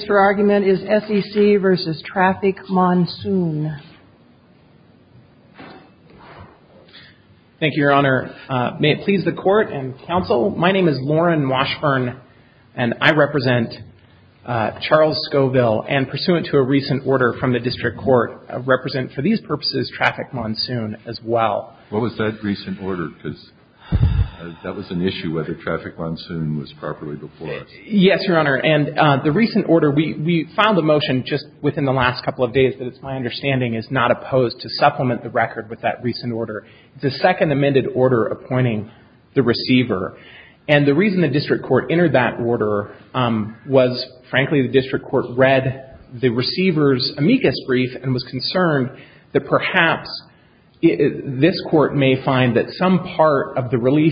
Your argument is SEC v. Traffic Monsoon. Thank you, Your Honor. May it please the Court and Counsel, my name is Lauren Washburn, and I represent Charles Scoville, and pursuant to a recent order from the District Court, represent for these purposes Traffic Monsoon as well. What was that recent order? Because that was an issue, whether Traffic Monsoon was properly before us. Yes, Your Honor. And the recent order, we filed a motion just within the last couple of days, but it's my understanding is not opposed to supplement the record with that recent order. It's a second amended order appointing the receiver. And the reason the District Court entered that order was, frankly, the District Court read the receiver's amicus brief and was concerned that perhaps this Court may find that some part of the claim,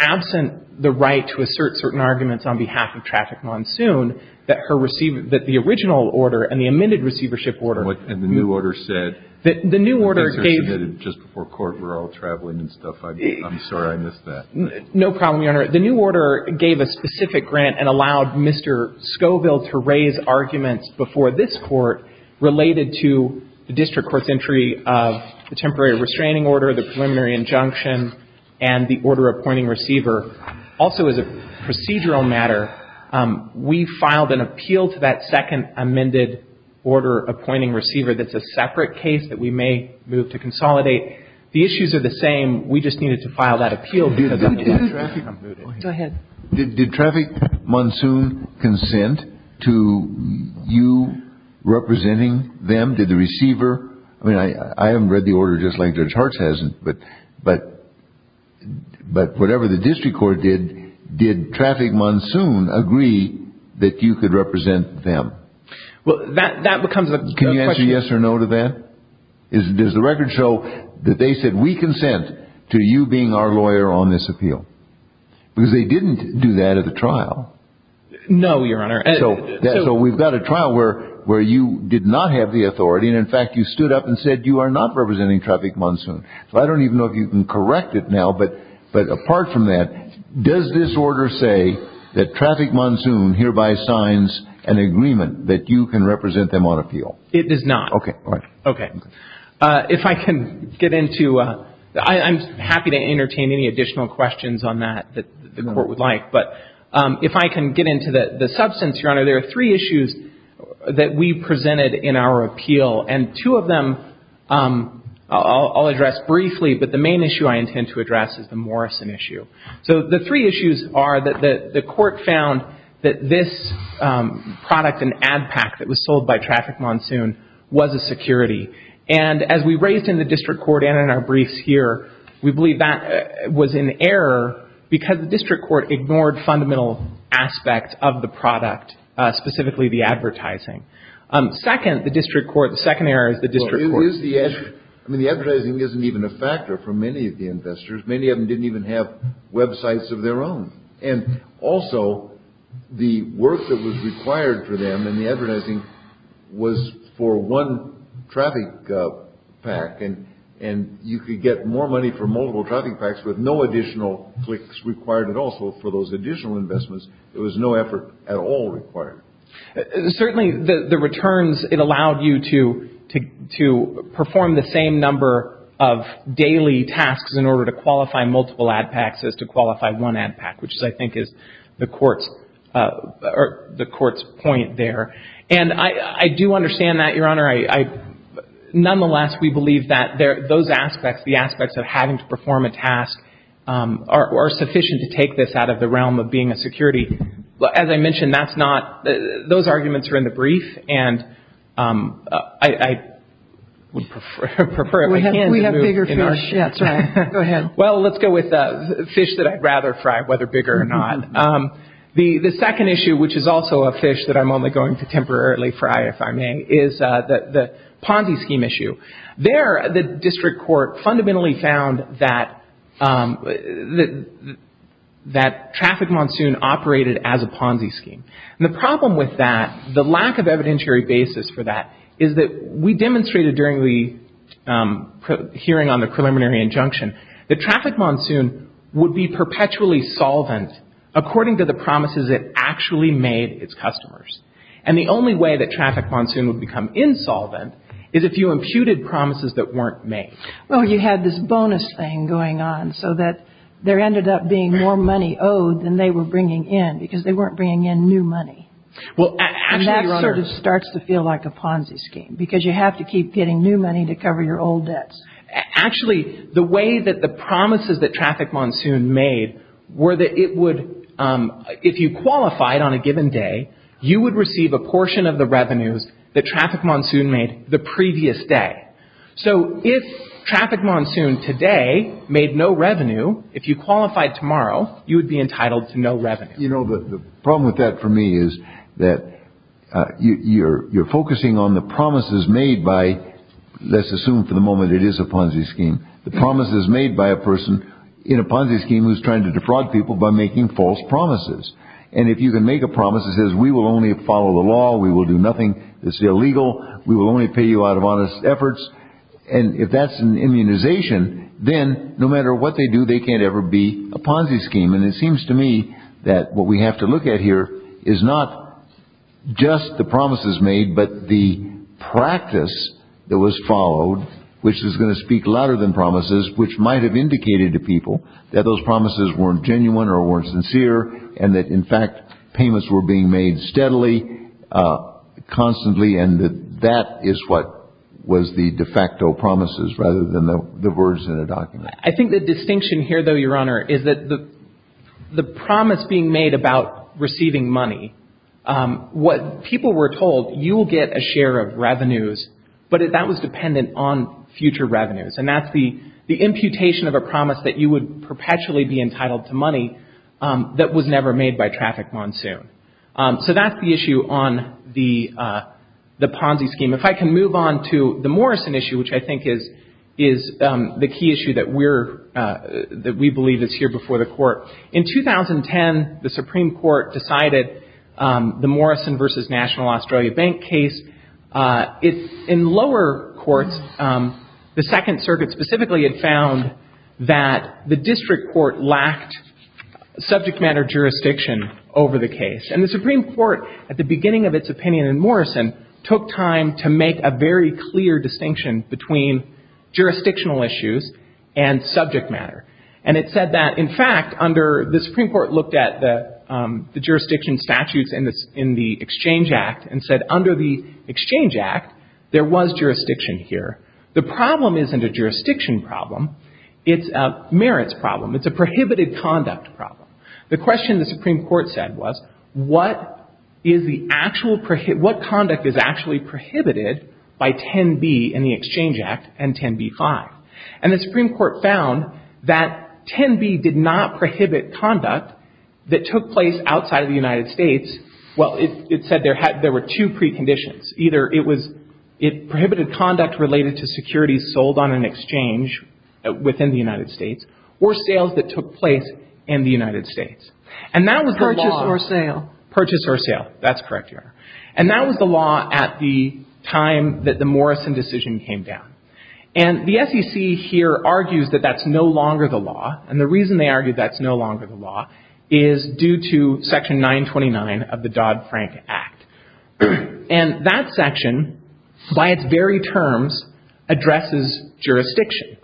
absent the right to assert certain arguments on behalf of Traffic Monsoon, that her receiver, that the original order and the amended receivership order. And the new order said. The new order gave. Just before court, we're all traveling and stuff. I'm sorry I missed that. No problem, Your Honor. The new order gave a specific grant and allowed Mr. Scoville to raise arguments before this Court related to the District Court's entry of the temporary restraining order, the preliminary injunction, and the order appointing receiver. Also, as a procedural matter, we filed an appeal to that second amended order appointing receiver. That's a separate case that we may move to consolidate. The issues are the same. We just needed to file that appeal. Did Traffic Monsoon consent to you representing them? Did the receiver? I mean, I haven't read the order just like Judge Hartz hasn't, but whatever the District Court did, did Traffic Monsoon agree that you could represent them? Well, that becomes a question. Can you answer yes or no to that? Does the record show that they said, we consent to you being our lawyer on this appeal? Because they didn't do that at the trial. No, Your Honor. So we've got a trial where you did not have the authority, and in fact, you stood up and said you are not representing Traffic Monsoon. So I don't even know if you can correct it now, but apart from that, does this order say that Traffic Monsoon hereby signs an agreement that you can represent them on appeal? It does not. Okay. All right. Okay. If I can get into – I'm happy to entertain any additional questions on that that the Court would like, but if I can get into the substance, Your Honor, there are three issues that we presented in our appeal. And two of them I'll address briefly, but the main issue I intend to address is the Morrison issue. So the three issues are that the Court found that this product, an ad pack, that was sold by Traffic Monsoon was a security. And as we raised in the District Court and in our briefs here, we believe that was an error because the District Court ignored fundamental aspects of the product, specifically the advertising. Second, the District Court – the second error is the District Court – Well, it is the – I mean, the advertising isn't even a factor for many of the investors. Many of them didn't even have websites of their own. And also, the work that was required for them in the advertising was for one traffic pack, and you could get more money for multiple traffic packs with no additional clicks required at all. So for those additional investments, there was no effort at all required. Certainly, the returns, it allowed you to perform the same number of daily tasks in order to qualify multiple ad packs as to qualify one ad pack, which I think is the Court's point there. And I do understand that, Your Honor. Nonetheless, we believe that those aspects, the aspects of having to perform a task, are sufficient to take this out of the realm of being a security. As I mentioned, that's not – those arguments are in the brief, and I would prefer – We have bigger fish. That's right. Go ahead. Well, let's go with fish that I'd rather fry, whether bigger or not. The second issue, which is also a fish that I'm only going to temporarily fry, if I may, is the Ponzi scheme issue. There, the District Court fundamentally found that Traffic Monsoon operated as a Ponzi scheme. And the problem with that, the lack of evidentiary basis for that, is that we demonstrated during the hearing on the preliminary injunction that Traffic Monsoon would be perpetually solvent according to the promises it actually made its customers. And the only way that Traffic Monsoon would become insolvent is if you imputed promises that weren't made. Well, you had this bonus thing going on so that there ended up being more money owed than they were bringing in because they weren't bringing in new money. Well, actually, Your Honor – And that sort of starts to feel like a Ponzi scheme because you have to keep getting new money to cover your old debts. Actually, the way that the promises that Traffic Monsoon made were that it would – if you qualified on a given day, you would receive a portion of the revenues that Traffic Monsoon made the previous day. So if Traffic Monsoon today made no revenue, if you qualified tomorrow, you would be entitled to no revenue. You know, the problem with that for me is that you're focusing on the promises made by – let's assume for the moment it is a Ponzi scheme – the promises made by a person in a Ponzi scheme who's trying to defraud people by making false promises. And if you can make a promise that says we will only follow the law, we will do nothing that's illegal, we will only pay you out of honest efforts, and if that's an immunization, then no matter what they do, they can't ever be a Ponzi scheme. And it seems to me that what we have to look at here is not just the promises made, but the practice that was followed, which is going to speak louder than promises, which might have indicated to people that those promises weren't genuine or weren't sincere and that, in fact, payments were being made steadily, constantly, and that that is what was the de facto promises rather than the words in a document. I think the distinction here, though, Your Honor, is that the promise being made about receiving money, what people were told, you will get a share of revenues, but that was dependent on future revenues. And that's the imputation of a promise that you would perpetually be entitled to money that was never made by Traffic Monsoon. So that's the issue on the Ponzi scheme. If I can move on to the Morrison issue, which I think is the key issue that we believe is here before the Court. In 2010, the Supreme Court decided the Morrison v. National Australia Bank case. In lower courts, the Second Circuit specifically had found that the district court lacked subject matter jurisdiction over the case. And the Supreme Court, at the beginning of its opinion in Morrison, took time to make a very clear distinction between jurisdictional issues and subject matter. And it said that, in fact, under the Supreme Court looked at the jurisdiction statutes in the Exchange Act and said under the Exchange Act, there was jurisdiction here. The problem isn't a jurisdiction problem. It's a merits problem. It's a prohibited conduct problem. The question the Supreme Court said was, what conduct is actually prohibited by 10b in the Exchange Act and 10b-5? And the Supreme Court found that 10b did not prohibit conduct that took place outside of the United States. Well, it said there were two preconditions. Either it prohibited conduct related to securities sold on an exchange within the United States or sales that took place in the United States. And that was the law. Purchase or sale. Purchase or sale. That's correct, Your Honor. And that was the law at the time that the Morrison decision came down. And the SEC here argues that that's no longer the law. And the reason they argue that's no longer the law is due to Section 929 of the Dodd-Frank Act. And that section, by its very terms, addresses jurisdiction.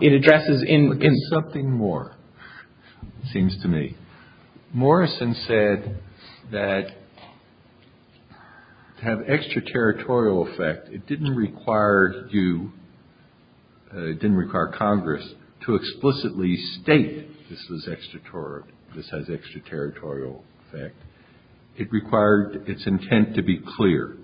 It addresses in- But there's something more, it seems to me. Morrison said that to have extraterritorial effect, it didn't require you, it didn't require Congress to explicitly state this was extraterritorial, this has extraterritorial effect. It required its intent to be clear.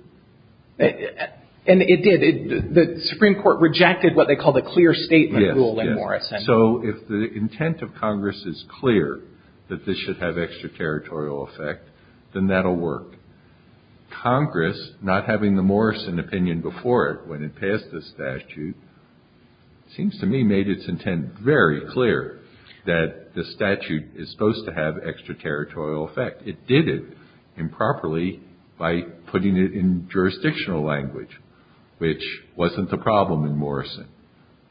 And it did. The Supreme Court rejected what they call the clear statement ruling, Morrison. Yes, yes. So if the intent of Congress is clear that this should have extraterritorial effect, then that'll work. Congress, not having the Morrison opinion before it when it passed the statute, seems to me made its intent very clear that the statute is supposed to have extraterritorial effect. It did it improperly by putting it in jurisdictional language, which wasn't the problem in Morrison.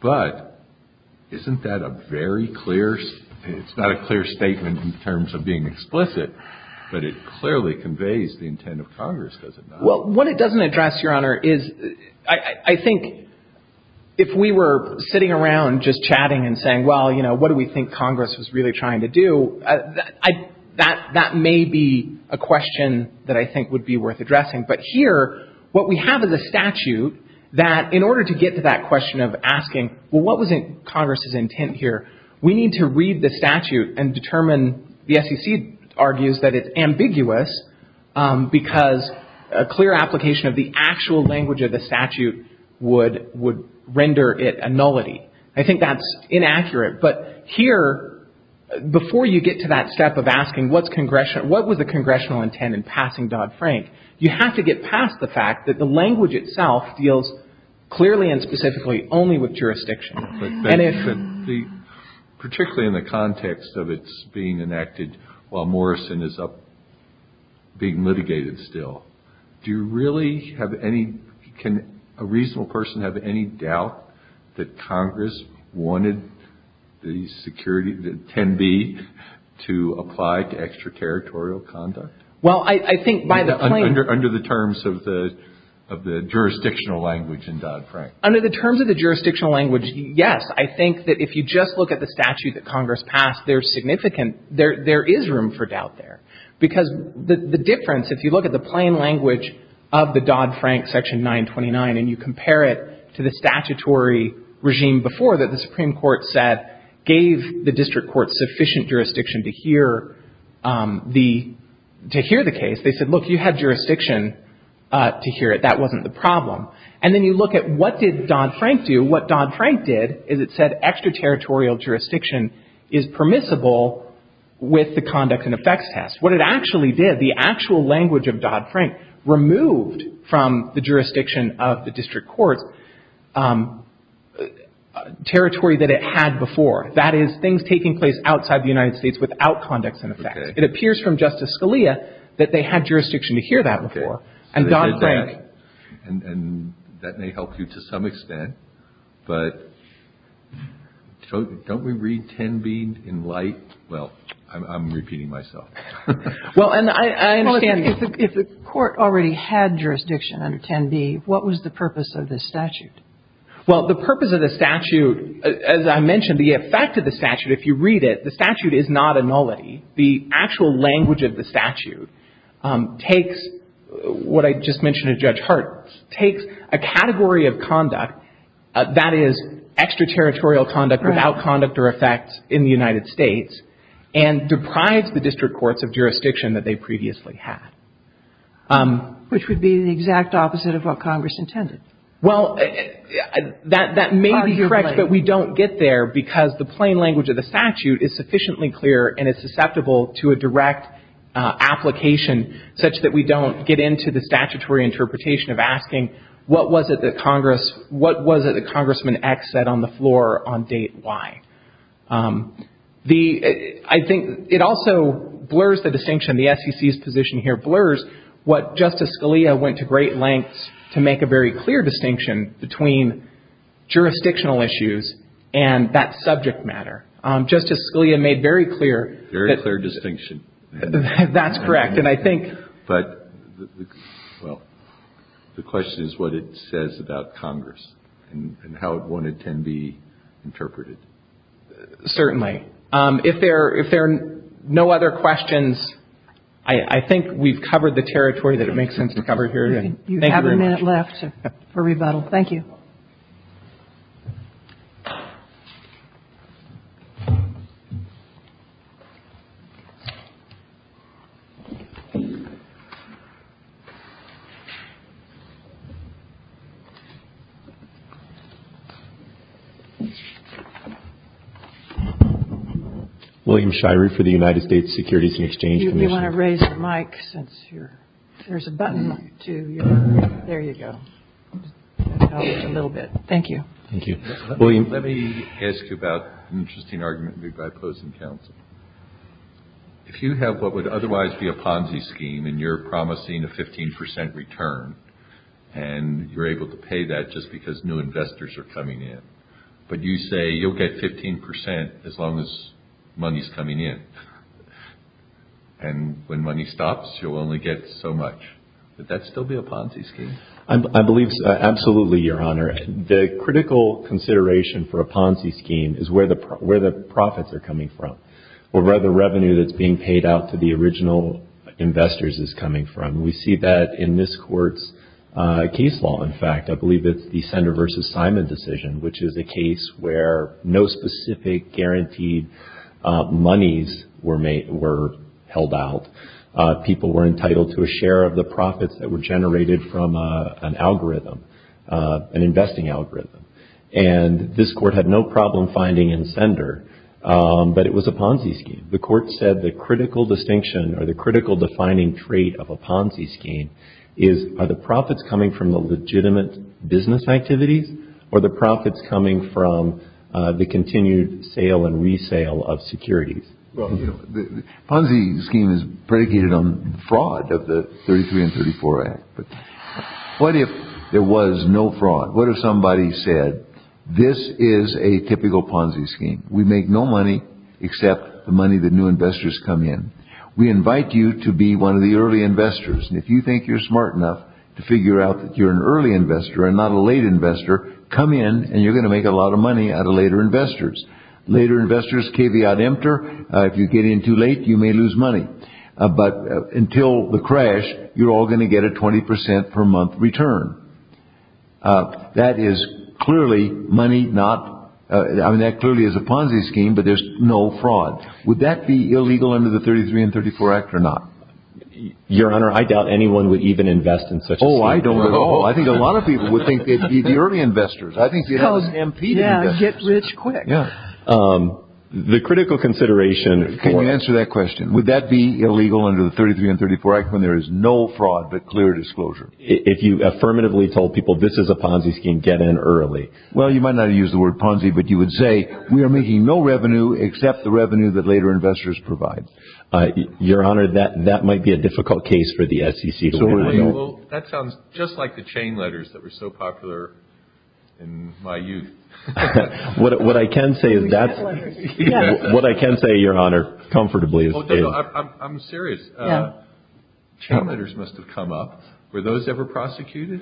But isn't that a very clear, it's not a clear statement in terms of being explicit, but it clearly conveys the intent of Congress, does it not? Well, what it doesn't address, Your Honor, is I think if we were sitting around just chatting and saying, well, you know, what do we think Congress was really trying to do, that may be a question that I think would be worth addressing. But here, what we have is a statute that in order to get to that question of asking, well, what was Congress's intent here, we need to read the statute and determine, the SEC argues that it's ambiguous because a clear application of the actual language of the statute would render it a nullity. I think that's inaccurate. But here, before you get to that step of asking what's Congressional, what was the Congressional intent in passing Dodd-Frank, you have to get past the fact that the language itself deals clearly and specifically only with jurisdiction. And if the, particularly in the context of its being enacted while Morrison is up being litigated still, do you really have any, can a reasonable person have any doubt that Congress wanted the security, the 10B, to apply to extraterritorial conduct? Well, I think by the plain. Under the terms of the jurisdictional language in Dodd-Frank. Under the terms of the jurisdictional language, yes. I think that if you just look at the statute that Congress passed, there's significant, there is room for doubt there. Because the difference, if you look at the plain language of the Dodd-Frank Section 929 and you compare it to the statutory regime before that the Supreme Court said gave the district court sufficient jurisdiction to hear the, to hear the case. They said, look, you had jurisdiction to hear it. That wasn't the problem. And then you look at what did Dodd-Frank do. And what Dodd-Frank did is it said extraterritorial jurisdiction is permissible with the conduct and effects test. What it actually did, the actual language of Dodd-Frank removed from the jurisdiction of the district court territory that it had before. That is things taking place outside the United States without conduct and effects. Okay. It appears from Justice Scalia that they had jurisdiction to hear that before. Okay. And Dodd-Frank. And that may help you to some extent. But don't we read 10b in light? Well, I'm repeating myself. Well, and I understand if the court already had jurisdiction under 10b, what was the purpose of this statute? Well, the purpose of the statute, as I mentioned, the effect of the statute, if you read it, the statute is not a nullity. The actual language of the statute takes what I just mentioned to Judge Hart, takes a category of conduct that is extraterritorial conduct without conduct or effects in the United States and deprives the district courts of jurisdiction that they previously had. Which would be the exact opposite of what Congress intended. Well, that may be correct. But we don't get there because the plain language of the statute is sufficiently clear and is susceptible to a direct application such that we don't get into the statutory interpretation of asking what was it that Congress, what was it that Congressman X said on the floor on date Y? The – I think it also blurs the distinction. The SEC's position here blurs what Justice Scalia went to great lengths to make a very clear distinction between jurisdictional issues and that subject matter. Justice Scalia made very clear that – Very clear distinction. That's correct. And I think – Well, the question is what it says about Congress and how it wanted to be interpreted. Certainly. If there are no other questions, I think we've covered the territory that it makes sense to cover here. You have a minute left for rebuttal. Thank you. William Shirey for the United States Securities and Exchange Commission. Do you want to raise the mic since you're – there's a button to your – there you go. A little bit. Thank you. Thank you. William. Let me ask you about an interesting argument that I oppose in counsel. If you have what would otherwise be a Ponzi scheme and you're promising a 15% return and you're able to pay that just because new investors are coming in, but you say you'll get 15% as long as money's coming in and when money stops, you'll only get so much, would that still be a Ponzi scheme? I believe absolutely, Your Honor. The critical consideration for a Ponzi scheme is where the profits are coming from, or where the revenue that's being paid out to the original investors is coming from. We see that in this court's case law, in fact. I believe it's the Sander v. Simon decision, which is a case where no specific guaranteed monies were held out. People were entitled to a share of the profits that were generated from an algorithm. An investing algorithm. And this court had no problem finding in Sander, but it was a Ponzi scheme. The court said the critical distinction or the critical defining trait of a Ponzi scheme is are the profits coming from the legitimate business activities or the profits coming from the continued sale and resale of securities? Well, the Ponzi scheme is predicated on fraud of the 33 and 34 Act. But what if there was no fraud? What if somebody said this is a typical Ponzi scheme? We make no money except the money that new investors come in. We invite you to be one of the early investors. And if you think you're smart enough to figure out that you're an early investor and not a late investor, come in and you're going to make a lot of money out of later investors. Later investors caveat emptor. If you get in too late, you may lose money. But until the crash, you're all going to get a 20 percent per month return. That is clearly money not. I mean, that clearly is a Ponzi scheme, but there's no fraud. Would that be illegal under the 33 and 34 Act or not? Your Honor, I doubt anyone would even invest in such. Oh, I don't know. I think a lot of people would think they'd be the early investors. I think you get rich quick. The critical consideration. Can you answer that question? Would that be illegal under the 33 and 34 Act when there is no fraud but clear disclosure? If you affirmatively told people this is a Ponzi scheme, get in early. Well, you might not use the word Ponzi, but you would say we are making no revenue except the revenue that later investors provide. Your Honor, that might be a difficult case for the SEC. That sounds just like the chain letters that were so popular in my youth. What I can say, Your Honor, comfortably. I'm serious. Chain letters must have come up. Were those ever prosecuted?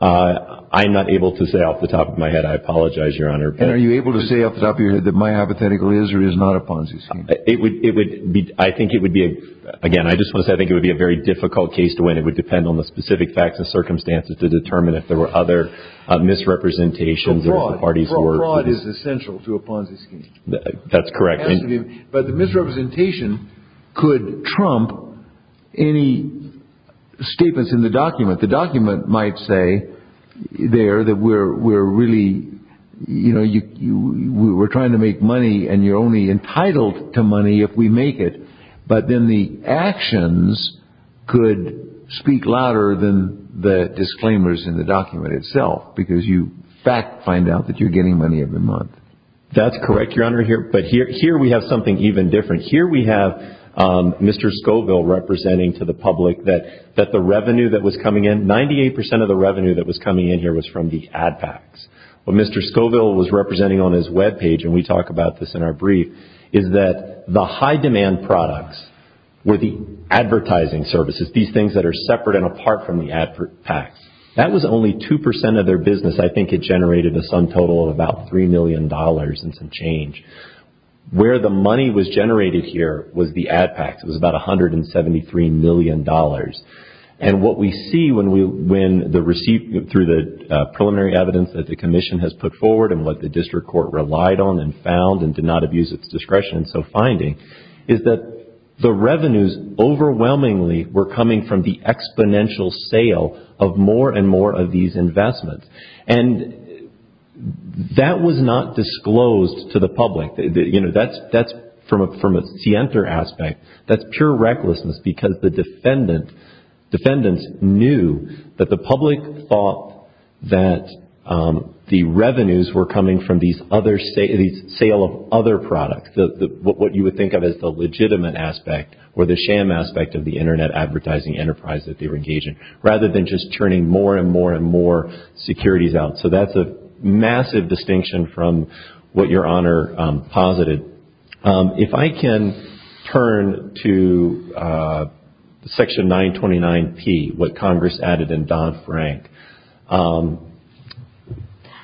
I'm not able to say off the top of my head. I apologize, Your Honor. And are you able to say off the top of your head that my hypothetical is or is not a Ponzi scheme? I think it would be, again, I just want to say I think it would be a very difficult case to win. It would depend on the specific facts and circumstances to determine if there were other misrepresentations. Fraud is essential to a Ponzi scheme. That's correct. But the misrepresentation could trump any statements in the document. The document might say there that we're really, you know, we're trying to make money and you're only entitled to money if we make it. But then the actions could speak louder than the disclaimers in the document itself because you fact find out that you're getting money every month. That's correct, Your Honor. But here we have something even different. Here we have Mr. Scoville representing to the public that the revenue that was coming in, 98 percent of the revenue that was coming in here was from the ad facts. What Mr. Scoville was representing on his web page, and we talk about this in our brief, is that the high demand products were the advertising services, these things that are separate and apart from the ad facts. That was only 2 percent of their business. I think it generated a sum total of about $3 million and some change. Where the money was generated here was the ad facts. It was about $173 million. And what we see through the preliminary evidence that the Commission has put forward and what the district court relied on and found and did not abuse its discretion in so finding is that the revenues overwhelmingly were coming from the exponential sale of more and more of these investments. And that was not disclosed to the public. That's from a scienter aspect. That's pure recklessness because the defendants knew that the public thought that the revenues were coming from these sale of other products, what you would think of as the legitimate aspect or the sham aspect of the Internet advertising enterprise that they were engaging, rather than just churning more and more and more securities out. So that's a massive distinction from what Your Honor posited. If I can turn to Section 929P, what Congress added in Don Frank,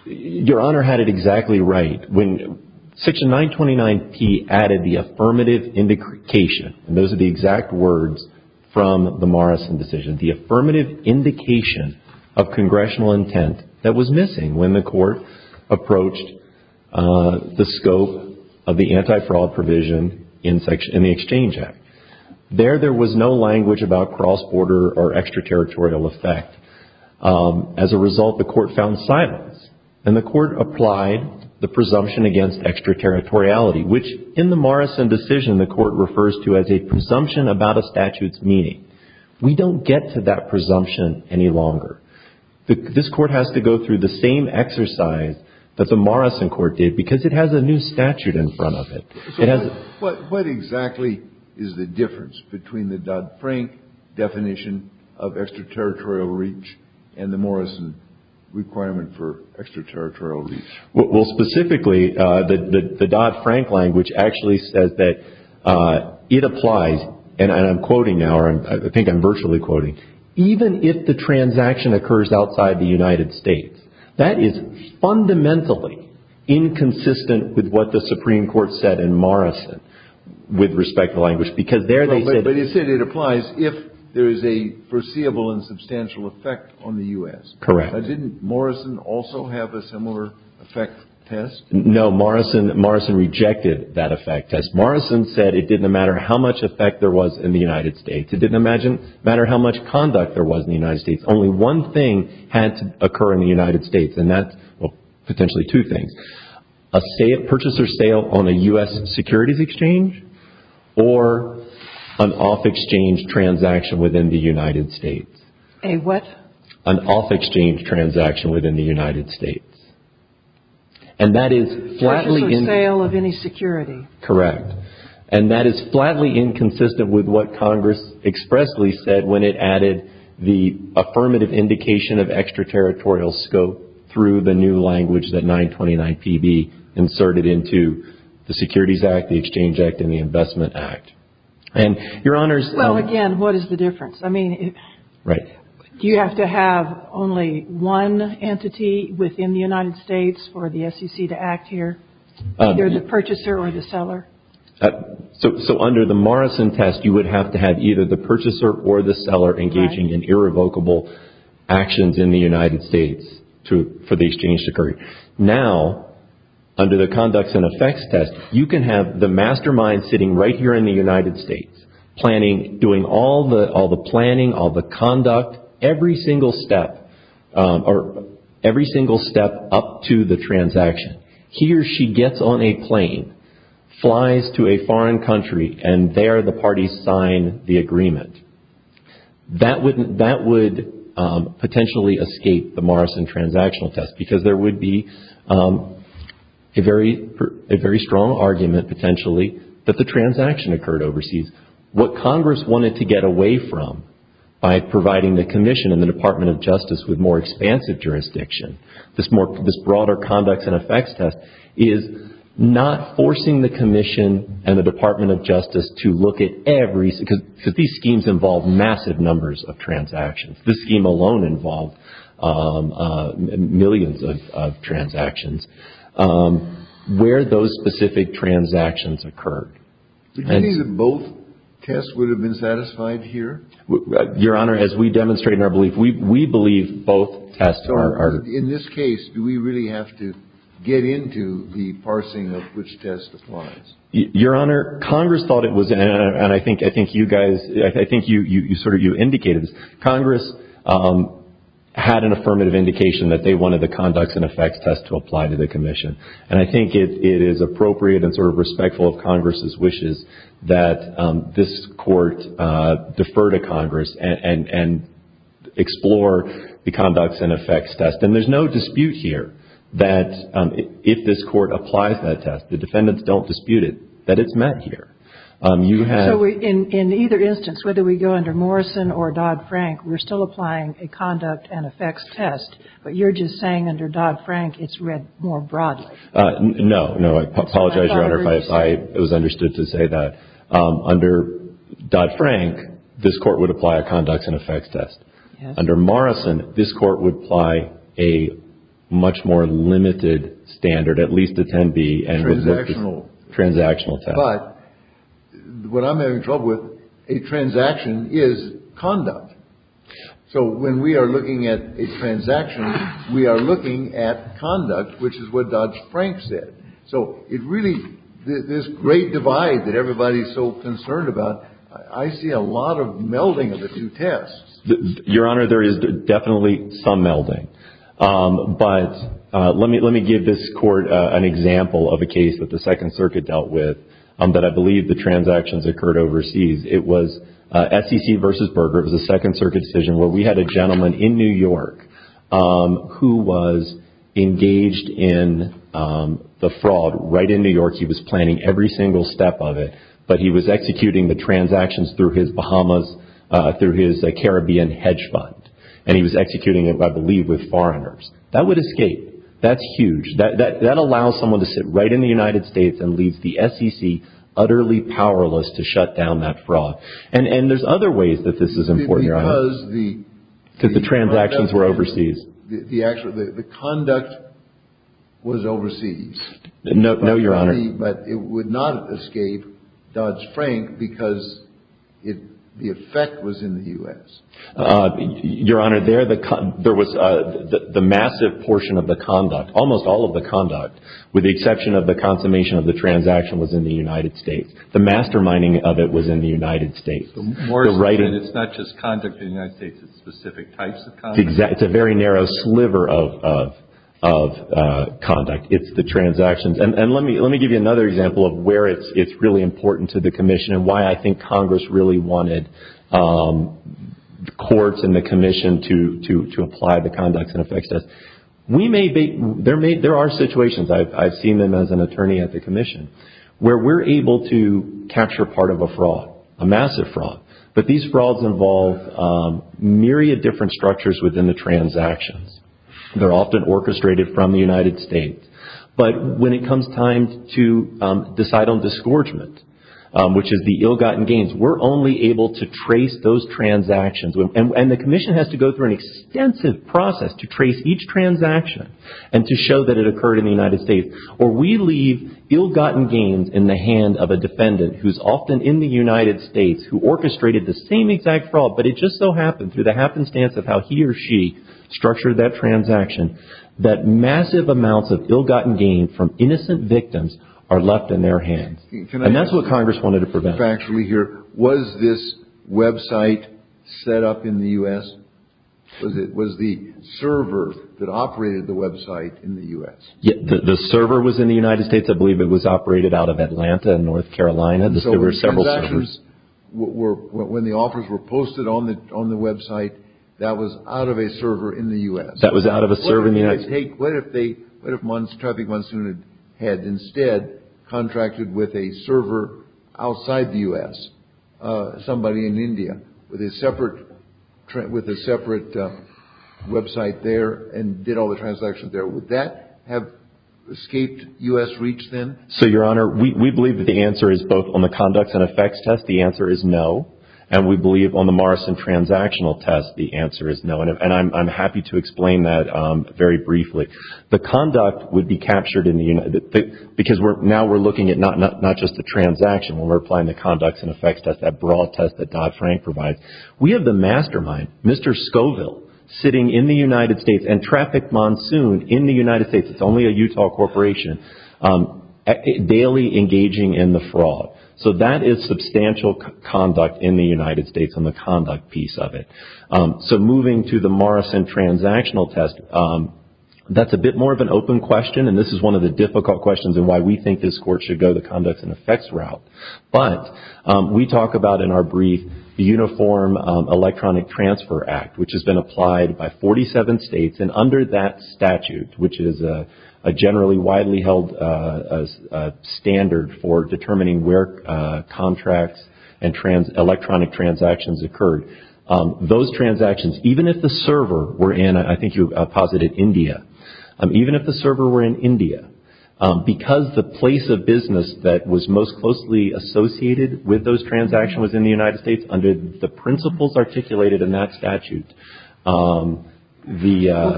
Your Honor had it exactly right. Section 929P added the affirmative indication, and those are the exact words from the Morrison decision, the affirmative indication of congressional intent that was missing when the court approached the scope of the anti-fraud provision in the Exchange Act. There, there was no language about cross-border or extraterritorial effect. As a result, the court found silence, and the court applied the presumption against extraterritoriality, which in the Morrison decision the court refers to as a presumption about a statute's meaning. We don't get to that presumption any longer. This court has to go through the same exercise that the Morrison court did because it has a new statute in front of it. So what exactly is the difference between the Dodd-Frank definition of extraterritorial reach and the Morrison requirement for extraterritorial reach? Well, specifically, the Dodd-Frank language actually says that it applies, and I'm quoting now, or I think I'm virtually quoting, even if the transaction occurs outside the United States. That is fundamentally inconsistent with what the Supreme Court said in Morrison with respect to language because there they said… But you said it applies if there is a foreseeable and substantial effect on the U.S. Correct. Didn't Morrison also have a similar effect test? No, Morrison rejected that effect test. Morrison said it didn't matter how much effect there was in the United States. It didn't matter how much conduct there was in the United States. Only one thing had to occur in the United States, and that's potentially two things, a purchase or sale on a U.S. securities exchange or an off-exchange transaction within the United States. A what? An off-exchange transaction within the United States. And that is flatly… A purchase or sale of any security. Correct. And that is flatly inconsistent with what Congress expressly said when it added the affirmative indication of extraterritorial scope through the new language that 929PB inserted into the Securities Act, the Exchange Act, and the Investment Act. And, Your Honors… Well, again, what is the difference? I mean… Right. Do you have to have only one entity within the United States for the SEC to act here, either the purchaser or the seller? So, under the Morrison test, you would have to have either the purchaser or the seller engaging in irrevocable actions in the United States for the exchange to occur. Now, under the Conducts and Effects test, you can have the mastermind sitting right here in the United States, doing all the planning, all the conduct, every single step up to the transaction. He or she gets on a plane, flies to a foreign country, and there the parties sign the agreement. That would potentially escape the Morrison transactional test because there would be a very strong argument, potentially, that the transaction occurred overseas. What Congress wanted to get away from by providing the Commission and the Department of Justice with more expansive jurisdiction, this broader Conducts and Effects test, is not forcing the Commission and the Department of Justice to look at every… because these schemes involve massive numbers of transactions. This scheme alone involved millions of transactions. Where those specific transactions occurred. Do you think that both tests would have been satisfied here? Your Honor, as we demonstrate in our belief, we believe both tests are… In this case, do we really have to get into the parsing of which test applies? Your Honor, Congress thought it was, and I think you guys, I think you sort of, you indicated this. Congress had an affirmative indication that they wanted the Conducts and Effects test to apply to the Commission. And I think it is appropriate and sort of respectful of Congress's wishes that this Court defer to Congress and explore the Conducts and Effects test. And there's no dispute here that if this Court applies that test, the defendants don't dispute it, that it's met here. So in either instance, whether we go under Morrison or Dodd-Frank, we're still applying a Conducts and Effects test. But you're just saying under Dodd-Frank it's read more broadly. No, no. I apologize, Your Honor, if I was understood to say that. Under Dodd-Frank, this Court would apply a Conducts and Effects test. Under Morrison, this Court would apply a much more limited standard, at least a 10B. Transactional. But what I'm having trouble with, a transaction is conduct. So when we are looking at a transaction, we are looking at conduct, which is what Dodd-Frank said. So it really, this great divide that everybody is so concerned about, I see a lot of melding of the two tests. Your Honor, there is definitely some melding. But let me give this Court an example of a case that the Second Circuit dealt with that I believe the transactions occurred overseas. It was SEC versus Berger. It was a Second Circuit decision where we had a gentleman in New York who was engaged in the fraud. Right in New York, he was planning every single step of it. But he was executing the transactions through his Bahamas, through his Caribbean hedge fund. And he was executing it, I believe, with foreigners. That would escape. That's huge. That allows someone to sit right in the United States and leaves the SEC utterly powerless to shut down that fraud. And there's other ways that this is important, Your Honor. Because the transactions were overseas. The conduct was overseas. No, Your Honor. But it would not escape Dodd-Frank because the effect was in the U.S. Your Honor, there was the massive portion of the conduct, almost all of the conduct, with the exception of the consummation of the transaction was in the United States. The masterminding of it was in the United States. It's not just conduct in the United States. It's specific types of conduct. It's a very narrow sliver of conduct. It's the transactions. And let me give you another example of where it's really important to the Commission and why I think Congress really wanted courts and the Commission to apply the Conducts and Effects Test. There are situations, I've seen them as an attorney at the Commission, where we're able to capture part of a fraud, a massive fraud. But these frauds involve myriad different structures within the transactions. They're often orchestrated from the United States. But when it comes time to decide on disgorgement, which is the ill-gotten gains, we're only able to trace those transactions. And the Commission has to go through an extensive process to trace each transaction and to show that it occurred in the United States. Or we leave ill-gotten gains in the hand of a defendant who's often in the United States, who orchestrated the same exact fraud, but it just so happened, through the happenstance of how he or she structured that transaction, that massive amounts of ill-gotten gain from innocent victims are left in their hands. And that's what Congress wanted to prevent. Was this website set up in the U.S.? Was the server that operated the website in the U.S.? The server was in the United States. I believe it was operated out of Atlanta in North Carolina. There were several servers. When the offers were posted on the website, that was out of a server in the U.S.? That was out of a server in the United States. What if Traffic Monsoon had instead contracted with a server outside the U.S., somebody in India, with a separate website there and did all the transactions there? Would that have escaped U.S. reach then? So, Your Honor, we believe that the answer is both on the conducts and effects test, the answer is no. And we believe on the Morrison transactional test, the answer is no. And I'm happy to explain that very briefly. The conduct would be captured in the United States, because now we're looking at not just the transaction, when we're applying the conducts and effects test, that broad test that Dodd-Frank provides. We have the mastermind, Mr. Scoville, sitting in the United States, and Traffic Monsoon in the United States, it's only a Utah corporation, daily engaging in the fraud. So that is substantial conduct in the United States on the conduct piece of it. So moving to the Morrison transactional test, that's a bit more of an open question, and this is one of the difficult questions in why we think this court should go the conducts and effects route. But we talk about in our brief the Uniform Electronic Transfer Act, which has been applied by 47 states, and under that statute, which is a generally widely held standard for determining where contracts and electronic transactions occurred, those transactions, even if the server were in, I think you posited India, even if the server were in India, because the place of business that was most closely associated with those transactions was in the United States under the principles articulated in that statute.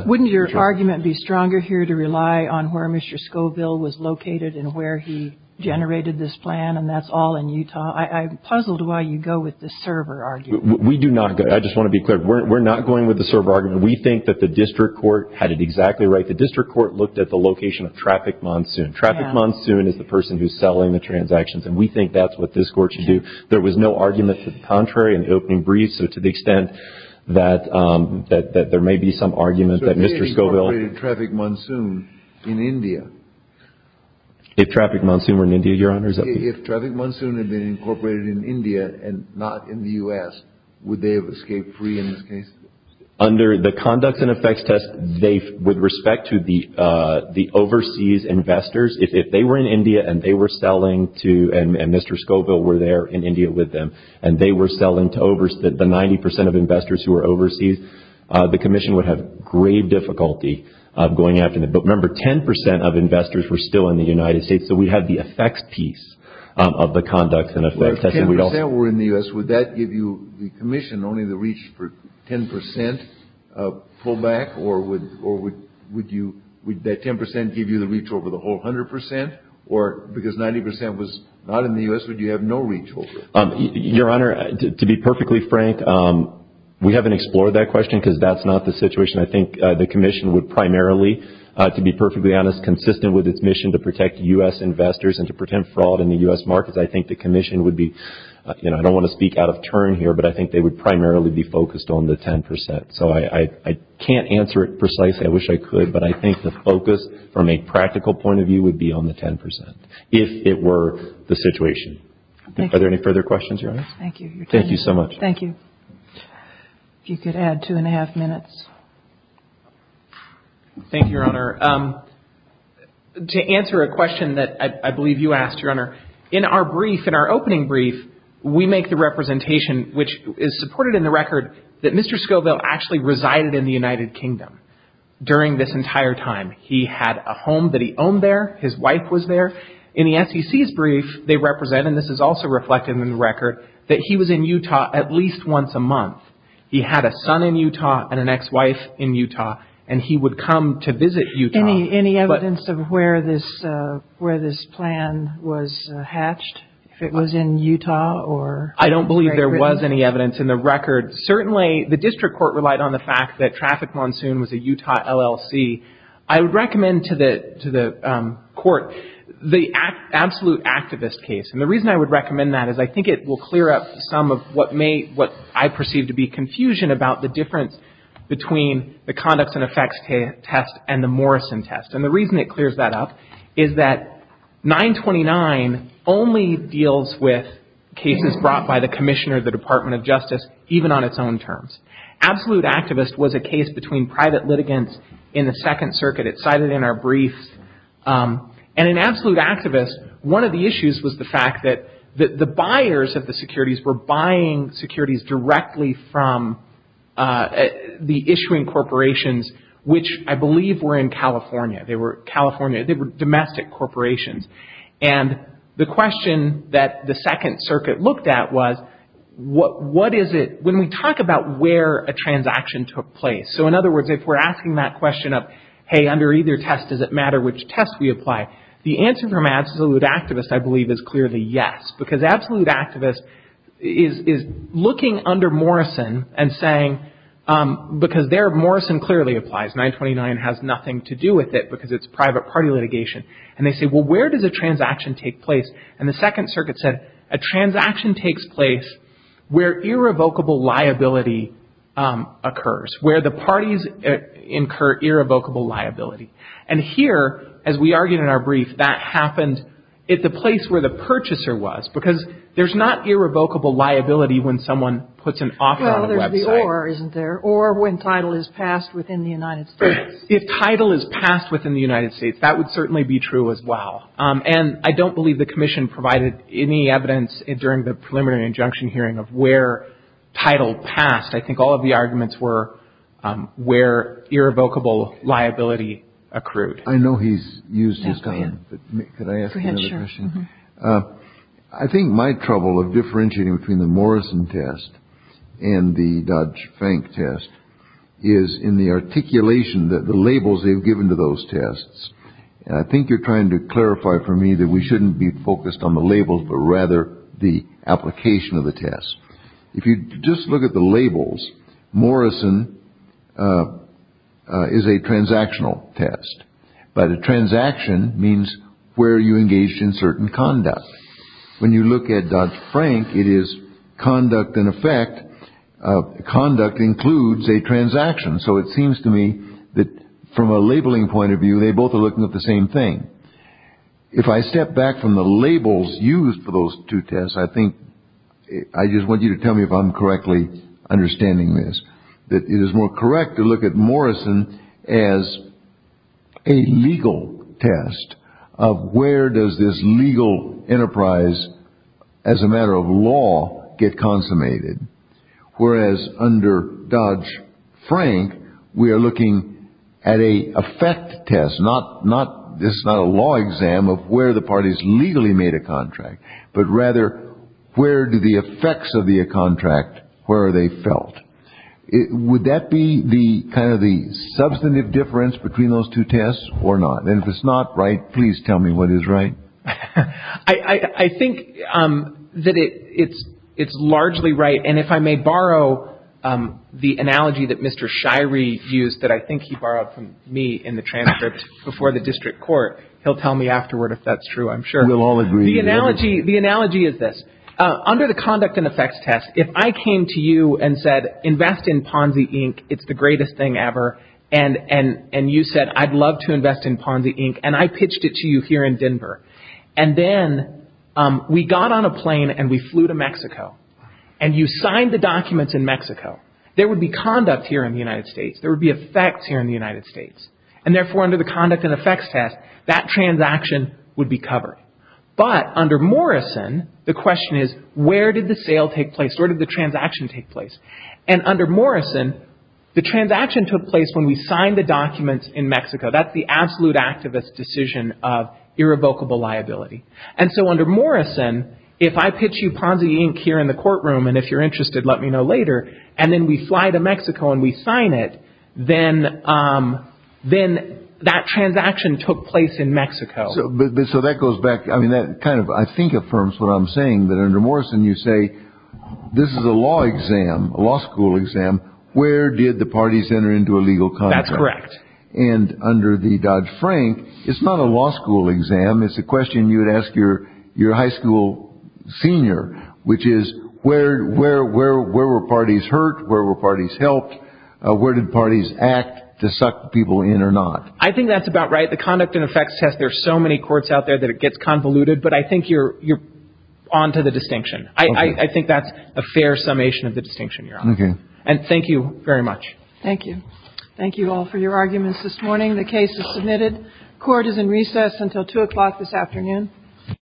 Wouldn't your argument be stronger here to rely on where Mr. Scoville was located and where he generated this plan, and that's all in Utah? I'm puzzled why you go with the server argument. We do not. I just want to be clear. We're not going with the server argument. We think that the district court had it exactly right. The district court looked at the location of Traffic Monsoon. Traffic Monsoon is the person who's selling the transactions, and we think that's what this court should do. There was no argument to the contrary in the opening brief, so to the extent that there may be some argument that Mr. Scoville had incorporated Traffic Monsoon in India. If Traffic Monsoon were in India, Your Honor? If Traffic Monsoon had been incorporated in India and not in the U.S., would they have escaped free in this case? Under the conducts and effects test, with respect to the overseas investors, if they were in India and they were selling to, and Mr. Scoville were there in India with them, and they were selling to the 90 percent of investors who were overseas, the commission would have grave difficulty going after them. But remember, 10 percent of investors were still in the United States, so we have the effects piece of the conducts and effects test. If 10 percent were in the U.S., would that give you, the commission, only the reach for 10 percent pullback, or would that 10 percent give you the reach over the whole 100 percent, or because 90 percent was not in the U.S., would you have no reach over it? Your Honor, to be perfectly frank, we haven't explored that question because that's not the situation. I think the commission would primarily, to be perfectly honest, consistent with its mission to protect U.S. investors and to prevent fraud in the U.S. markets, I think the commission would be, you know, I don't want to speak out of turn here, but I think they would primarily be focused on the 10 percent. So, I can't answer it precisely. I wish I could, but I think the focus from a practical point of view would be on the 10 percent, if it were the situation. Thank you. Are there any further questions, Your Honor? Thank you. Thank you so much. Thank you. If you could add two and a half minutes. Thank you, Your Honor. To answer a question that I believe you asked, Your Honor, in our brief, in our opening brief, we make the representation, which is supported in the record, that Mr. Scoville actually resided in the United Kingdom during this entire time. He had a home that he owned there. His wife was there. In the SEC's brief, they represent, and this is also reflected in the record, that he was in Utah at least once a month. He had a son in Utah and an ex-wife in Utah, and he would come to visit Utah. Any evidence of where this plan was hatched, if it was in Utah? I don't believe there was any evidence in the record. Certainly, the district court relied on the fact that Traffic Monsoon was a Utah LLC. I would recommend to the court the Absolute Activist case. And the reason I would recommend that is I think it will clear up some of what may, what I perceive to be, confusion about the difference between the Conducts and Effects test and the Morrison test. And the reason it clears that up is that 929 only deals with cases brought by the Commissioner of the Department of Justice, even on its own terms. Absolute Activist was a case between private litigants in the Second Circuit. It's cited in our brief. And in Absolute Activist, one of the issues was the fact that the buyers of the securities were buying securities directly from the issuing corporations, which I believe were in California. They were domestic corporations. And the question that the Second Circuit looked at was what is it, when we talk about where a transaction took place. So, in other words, if we're asking that question of, hey, under either test, does it matter which test we apply? The answer from Absolute Activist, I believe, is clearly yes. Because Absolute Activist is looking under Morrison and saying, because there Morrison clearly applies. 929 has nothing to do with it because it's private party litigation. And they say, well, where does a transaction take place? And the Second Circuit said, a transaction takes place where irrevocable liability occurs, where the parties incur irrevocable liability. And here, as we argued in our brief, that happened at the place where the purchaser was. Because there's not irrevocable liability when someone puts an offer on a website. Well, there's the or, isn't there? Or when title is passed within the United States. If title is passed within the United States, that would certainly be true as well. And I don't believe the Commission provided any evidence during the preliminary injunction hearing of where title passed. I think all of the arguments were where irrevocable liability accrued. I know he's used his time. Go ahead, sure. I think my trouble of differentiating between the Morrison test and the Dodge Frank test is in the articulation that the labels they've given to those tests. I think you're trying to clarify for me that we shouldn't be focused on the labels, but rather the application of the test. If you just look at the labels, Morrison is a transactional test. But a transaction means where you engage in certain conduct. When you look at Dodge Frank, it is conduct in effect. Conduct includes a transaction. So it seems to me that from a labeling point of view, they both are looking at the same thing. If I step back from the labels used for those two tests, I think I just want you to tell me if I'm correctly understanding this. That it is more correct to look at Morrison as a legal test of where does this legal enterprise, as a matter of law, get consummated. Whereas under Dodge Frank, we are looking at an effect test. This is not a law exam of where the parties legally made a contract. But rather, where do the effects of the contract, where are they felt? Would that be kind of the substantive difference between those two tests or not? And if it's not, right, please tell me what is right. I think that it's largely right. And if I may borrow the analogy that Mr. Shirey used that I think he borrowed from me in the transcript before the district court, he'll tell me afterward if that's true, I'm sure. We'll all agree. The analogy is this. If I came to you and said, invest in Ponzi Inc. It's the greatest thing ever. And you said, I'd love to invest in Ponzi Inc. And I pitched it to you here in Denver. And then we got on a plane and we flew to Mexico. And you signed the documents in Mexico. There would be conduct here in the United States. There would be effects here in the United States. And therefore, under the conduct and effects test, that transaction would be covered. But under Morrison, the question is, where did the sale take place? Where did the transaction take place? And under Morrison, the transaction took place when we signed the documents in Mexico. That's the absolute activist decision of irrevocable liability. And so under Morrison, if I pitch you Ponzi Inc. here in the courtroom, and if you're interested, let me know later, and then we fly to Mexico and we sign it, then that transaction took place in Mexico. So that goes back, I mean, that kind of, I think, affirms what I'm saying, that under Morrison, you say, this is a law exam, a law school exam. Where did the parties enter into a legal contract? That's correct. And under the Dodd-Frank, it's not a law school exam. It's a question you would ask your high school senior, which is where were parties hurt? Where were parties helped? Where did parties act to suck people in or not? I think that's about right. The conduct and effects test, there are so many courts out there that it gets convoluted, but I think you're on to the distinction. I think that's a fair summation of the distinction, Your Honor. Okay. And thank you very much. Thank you. Thank you all for your arguments this morning. The case is submitted. Court is in recess until 2 o'clock this afternoon.